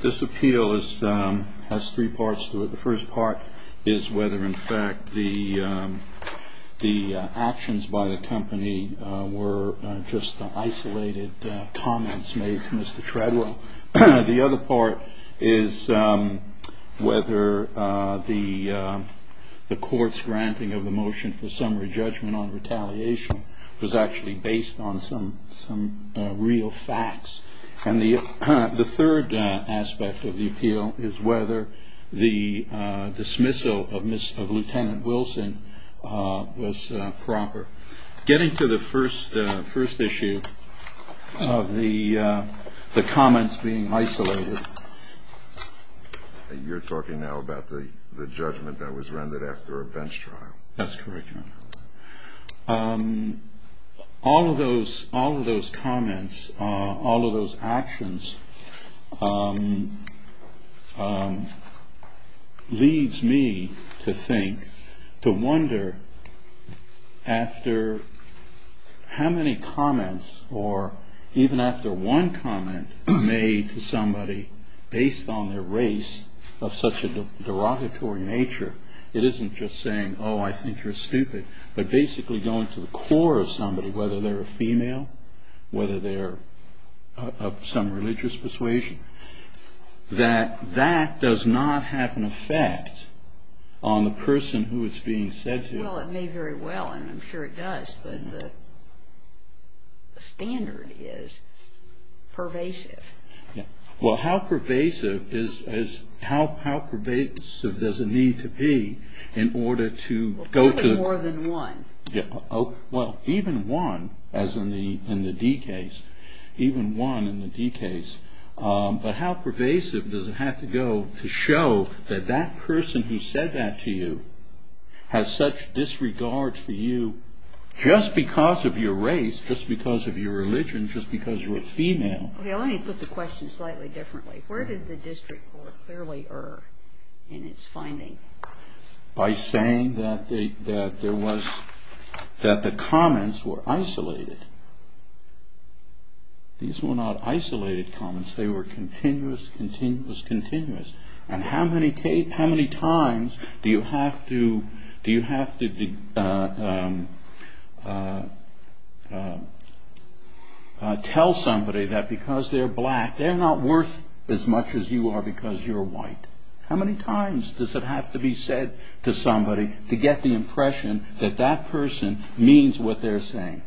This appeal has three parts to it. The first part is whether, in fact, the actions by the company were just isolated comments made to Mr. Treadwell. The other part is whether the court's granting of the motion for summary judgment on retaliation was actually based on some real facts. And the third aspect of the appeal is whether the dismissal of Lt. Wilson was proper. Getting to the first issue of the comments being isolated... You're talking now about the judgment that was rendered after a bench trial. That's correct, Your Honor. All of those comments, all of those actions, leads me to think, to wonder, after how many comments, or even after one comment, were made to somebody based on their race of such a derogatory nature. It isn't just saying, oh, I think you're stupid. But basically going to the core of somebody, whether they're a female, whether they're of some religious persuasion, that that does not have an effect on the person who it's being said to. Well, it may very well, and I'm sure it does, but the standard is pervasive. Well, how pervasive does it need to be in order to go to... Probably more than one. Well, even one, as in the D case, even one in the D case. But how pervasive does it have to go to show that that person who said that to you has such disregard for you just because of your race, just because of your religion, just because you're a female? Let me put the question slightly differently. Where did the district court clearly err in its finding? By saying that the comments were isolated. These were not isolated comments. They were continuous, continuous, continuous. And how many times do you have to tell somebody that because they're black, they're not worth as much as you are because you're white? How many times does it have to be said to somebody to get the impression that that person means what they're saying?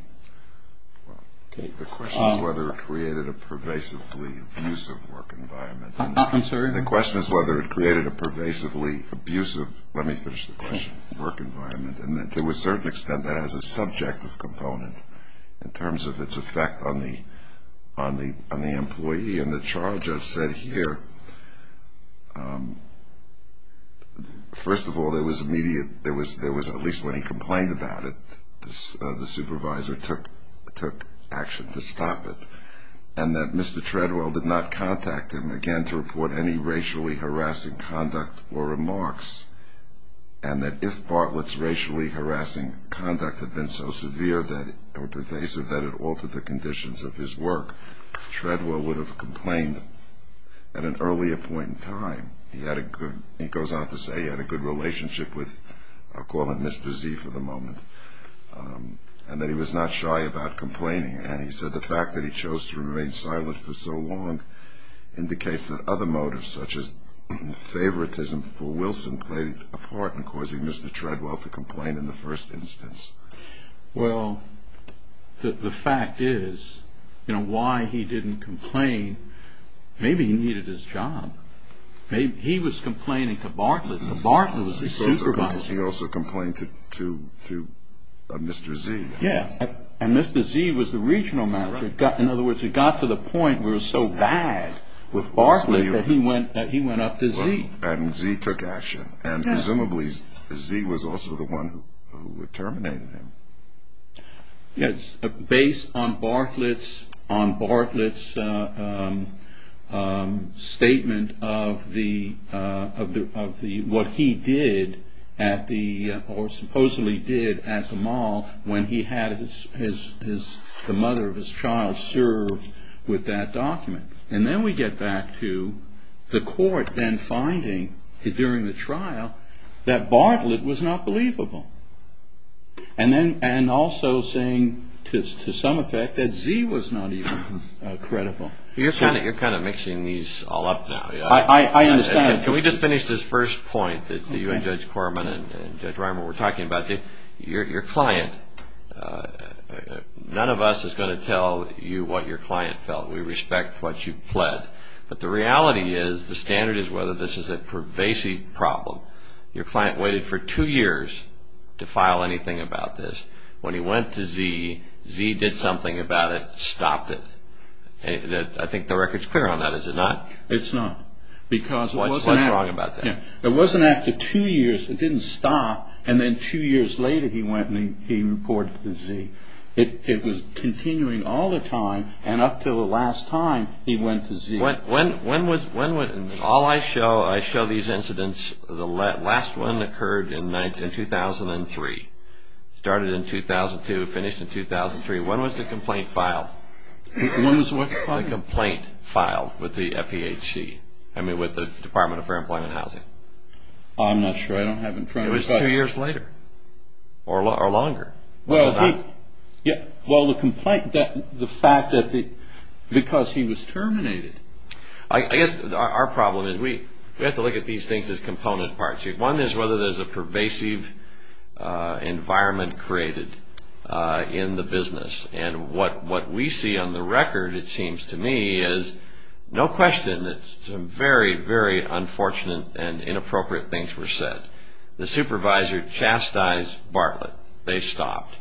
The question is whether it created a pervasively abusive work environment. I'm sorry? The question is whether it created a pervasively abusive, let me finish the question, work environment, and to a certain extent that has a subjective component in terms of its effect on the employee. And the trial judge said here, first of all, there was immediate, there was at least when he complained about it, the supervisor took action to stop it, and that Mr. Treadwell did not contact him again to report any racially harassing conduct or remarks, and that if Bartlett's racially harassing conduct had been so severe or pervasive that it altered the conditions of his work, Treadwell would have complained at an earlier point in time. He goes on to say he had a good relationship with, I'll call him Mr. Z for the moment, and that he was not shy about complaining. And he said the fact that he chose to remain silent for so long indicates that other motives, such as favoritism for Wilson, played a part in causing Mr. Treadwell to complain in the first instance. Well, the fact is, you know, why he didn't complain, maybe he needed his job. He was complaining to Bartlett, and Bartlett was the supervisor. He also complained to Mr. Z. Yes, and Mr. Z was the regional manager. In other words, it got to the point where it was so bad with Bartlett that he went up to Z. And Z took action, and presumably Z was also the one who terminated him. Yes, based on Bartlett's statement of what he did or supposedly did at the mall when he had the mother of his child served with that document. And then we get back to the court then finding, during the trial, that Bartlett was not believable. And also saying, to some effect, that Z was not even credible. You're kind of mixing these all up now. I understand. Can we just finish this first point that you and Judge Corman and Judge Reimer were talking about? Your client, none of us is going to tell you what your client felt. We respect what you pled. But the reality is, the standard is whether this is a pervasive problem. Your client waited for two years to file anything about this. When he went to Z, Z did something about it, stopped it. I think the record's clear on that, is it not? It's not. What's wrong about that? It wasn't after two years it didn't stop, and then two years later he went and he reported to Z. It was continuing all the time, and up until the last time he went to Z. When was, all I show, I show these incidents, the last one occurred in 2003, started in 2002, finished in 2003. When was the complaint filed? When was what filed? The complaint filed with the FEHC, I mean with the Department of Fair Employment and Housing. I'm not sure, I don't have it in front of me. It was two years later, or longer. Well, the complaint, the fact that because he was terminated. I guess our problem is we have to look at these things as component parts. One is whether there's a pervasive environment created in the business. And what we see on the record, it seems to me, is no question that some very, very unfortunate and inappropriate things were said. The supervisor chastised Bartlett. They stopped.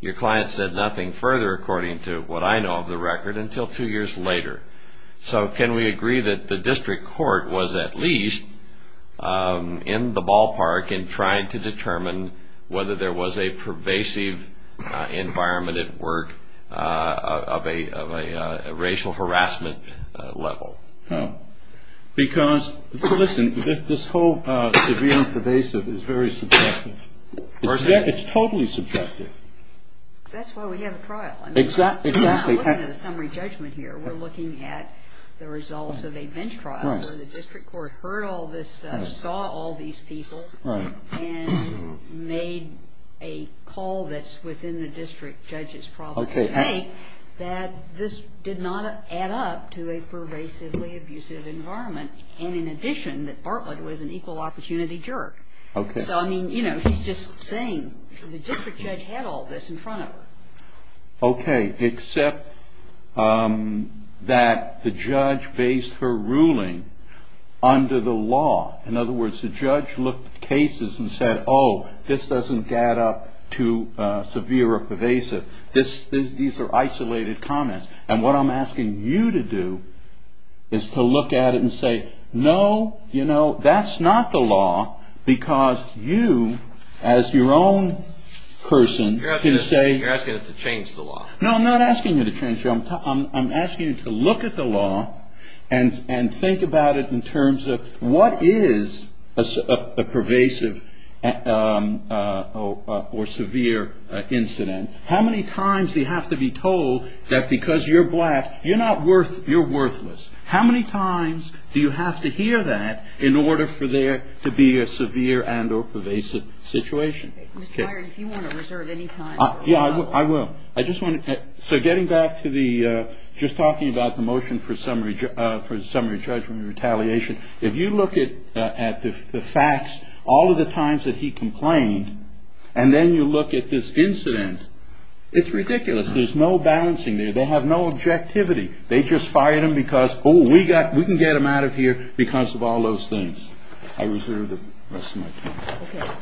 Your client said nothing further, according to what I know of the record, until two years later. So can we agree that the district court was at least in the ballpark in trying to determine whether there was a pervasive environment at work of a racial harassment level? Because, listen, this whole severe and pervasive is very subjective. It's totally subjective. That's why we have a trial. Exactly. We're not looking at a summary judgment here. We're looking at the results of a bench trial where the district court heard all this stuff, saw all these people, and made a call that's within the district judge's province to make that this did not add up to a pervasively abusive environment, and in addition that Bartlett was an equal opportunity jerk. So, I mean, you know, he's just saying the district judge had all this in front of her. Okay, except that the judge based her ruling under the law. In other words, the judge looked at cases and said, oh, this doesn't add up to severe or pervasive. These are isolated comments. And what I'm asking you to do is to look at it and say, no, you know, that's not the law, because you, as your own person, can say. You're asking us to change the law. No, I'm not asking you to change the law. I'm asking you to look at the law and think about it in terms of what is a pervasive or severe incident. How many times do you have to be told that because you're black, you're not worth, you're worthless? How many times do you have to hear that in order for there to be a severe and or pervasive situation? Ms. Byron, if you want to reserve any time. Yeah, I will. I just want. So getting back to the just talking about the motion for summary for summary judgment retaliation. If you look at the facts, all of the times that he complained and then you look at this incident, it's ridiculous. There's no balancing there. They have no objectivity. They just fired him because, oh, we got we can get him out of here because of all those things. I reserve the rest of my time.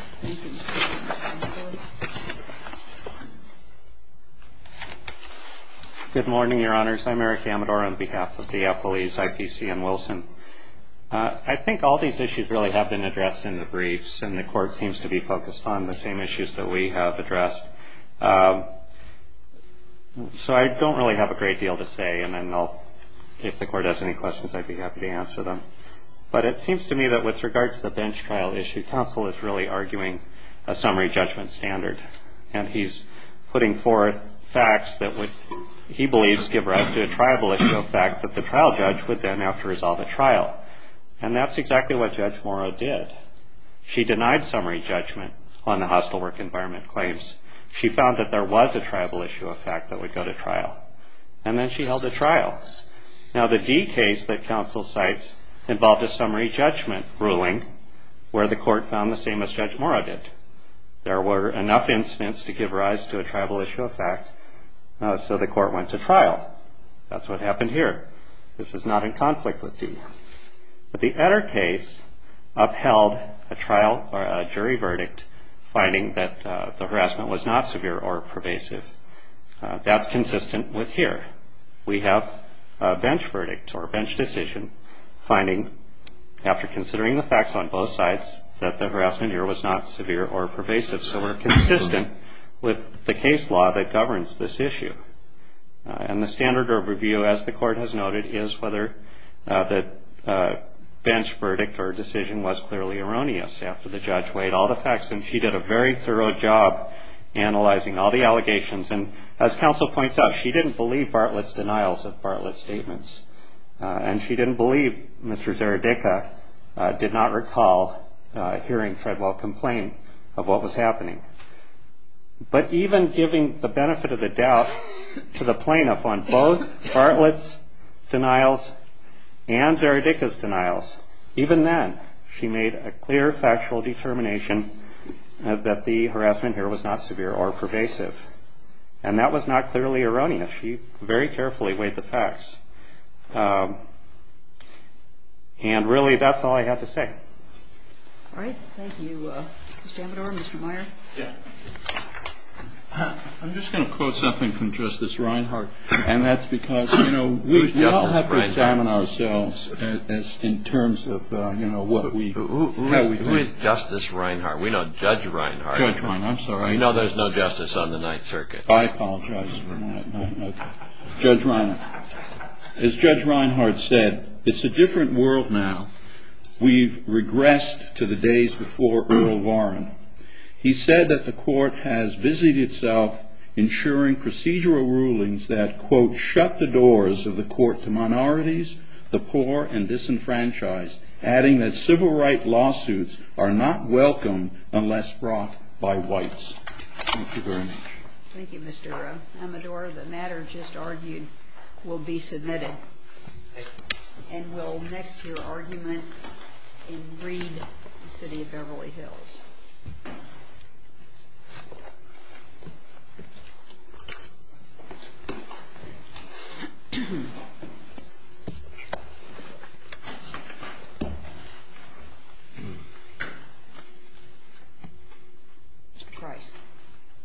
Good morning, Your Honors. I'm Eric Amador on behalf of the police, IPC and Wilson. I think all these issues really have been addressed in the briefs and the court seems to be focused on the same issues that we have addressed. So I don't really have a great deal to say. And I know if the court has any questions, I'd be happy to answer them. But it seems to me that with regards to the bench trial issue, counsel is really arguing a summary judgment standard. And he's putting forth facts that he believes give rise to a tribal issue of fact that the trial judge would then have to resolve a trial. And that's exactly what Judge Morrow did. She denied summary judgment on the hostile work environment claims. She found that there was a tribal issue of fact that would go to trial. And then she held the trial. Now the D case that counsel cites involved a summary judgment ruling where the court found the same as Judge Morrow did. There were enough incidents to give rise to a tribal issue of fact. So the court went to trial. That's what happened here. This is not in conflict with D. But the Etter case upheld a trial or a jury verdict finding that the harassment was not severe or pervasive. That's consistent with here. We have a bench verdict or a bench decision finding, after considering the facts on both sides, that the harassment here was not severe or pervasive. So we're consistent with the case law that governs this issue. And the standard of review, as the court has noted, is whether the bench verdict or decision was clearly erroneous after the judge weighed all the facts. And as counsel points out, she didn't believe Bartlett's denials of Bartlett's statements. And she didn't believe Mr. Zeradicka did not recall hearing Treadwell complain of what was happening. But even giving the benefit of the doubt to the plaintiff on both Bartlett's denials and Zeradicka's denials, even then she made a clear factual determination that the harassment here was not severe or pervasive. And that was not clearly erroneous. She very carefully weighed the facts. And really that's all I have to say. All right. Thank you. Mr. Amador, Mr. Meyer. I'm just going to quote something from Justice Reinhart. And that's because we all have to examine ourselves in terms of what we think. Who is Justice Reinhart? We know Judge Reinhart. Judge Reinhart. I'm sorry. You know there's no justice on the Ninth Circuit. I apologize for that. Judge Reinhart. As Judge Reinhart said, it's a different world now. We've regressed to the days before Earl Warren. He said that the court has busied itself ensuring procedural rulings that, quote, shut the doors of the court to minorities, the poor, and disenfranchised, adding that civil rights lawsuits are not welcome unless brought by whites. Thank you very much. Thank you, Mr. Earle. Amador, the matter just argued will be submitted. And we'll mix your argument and read the city of Beverly Hills.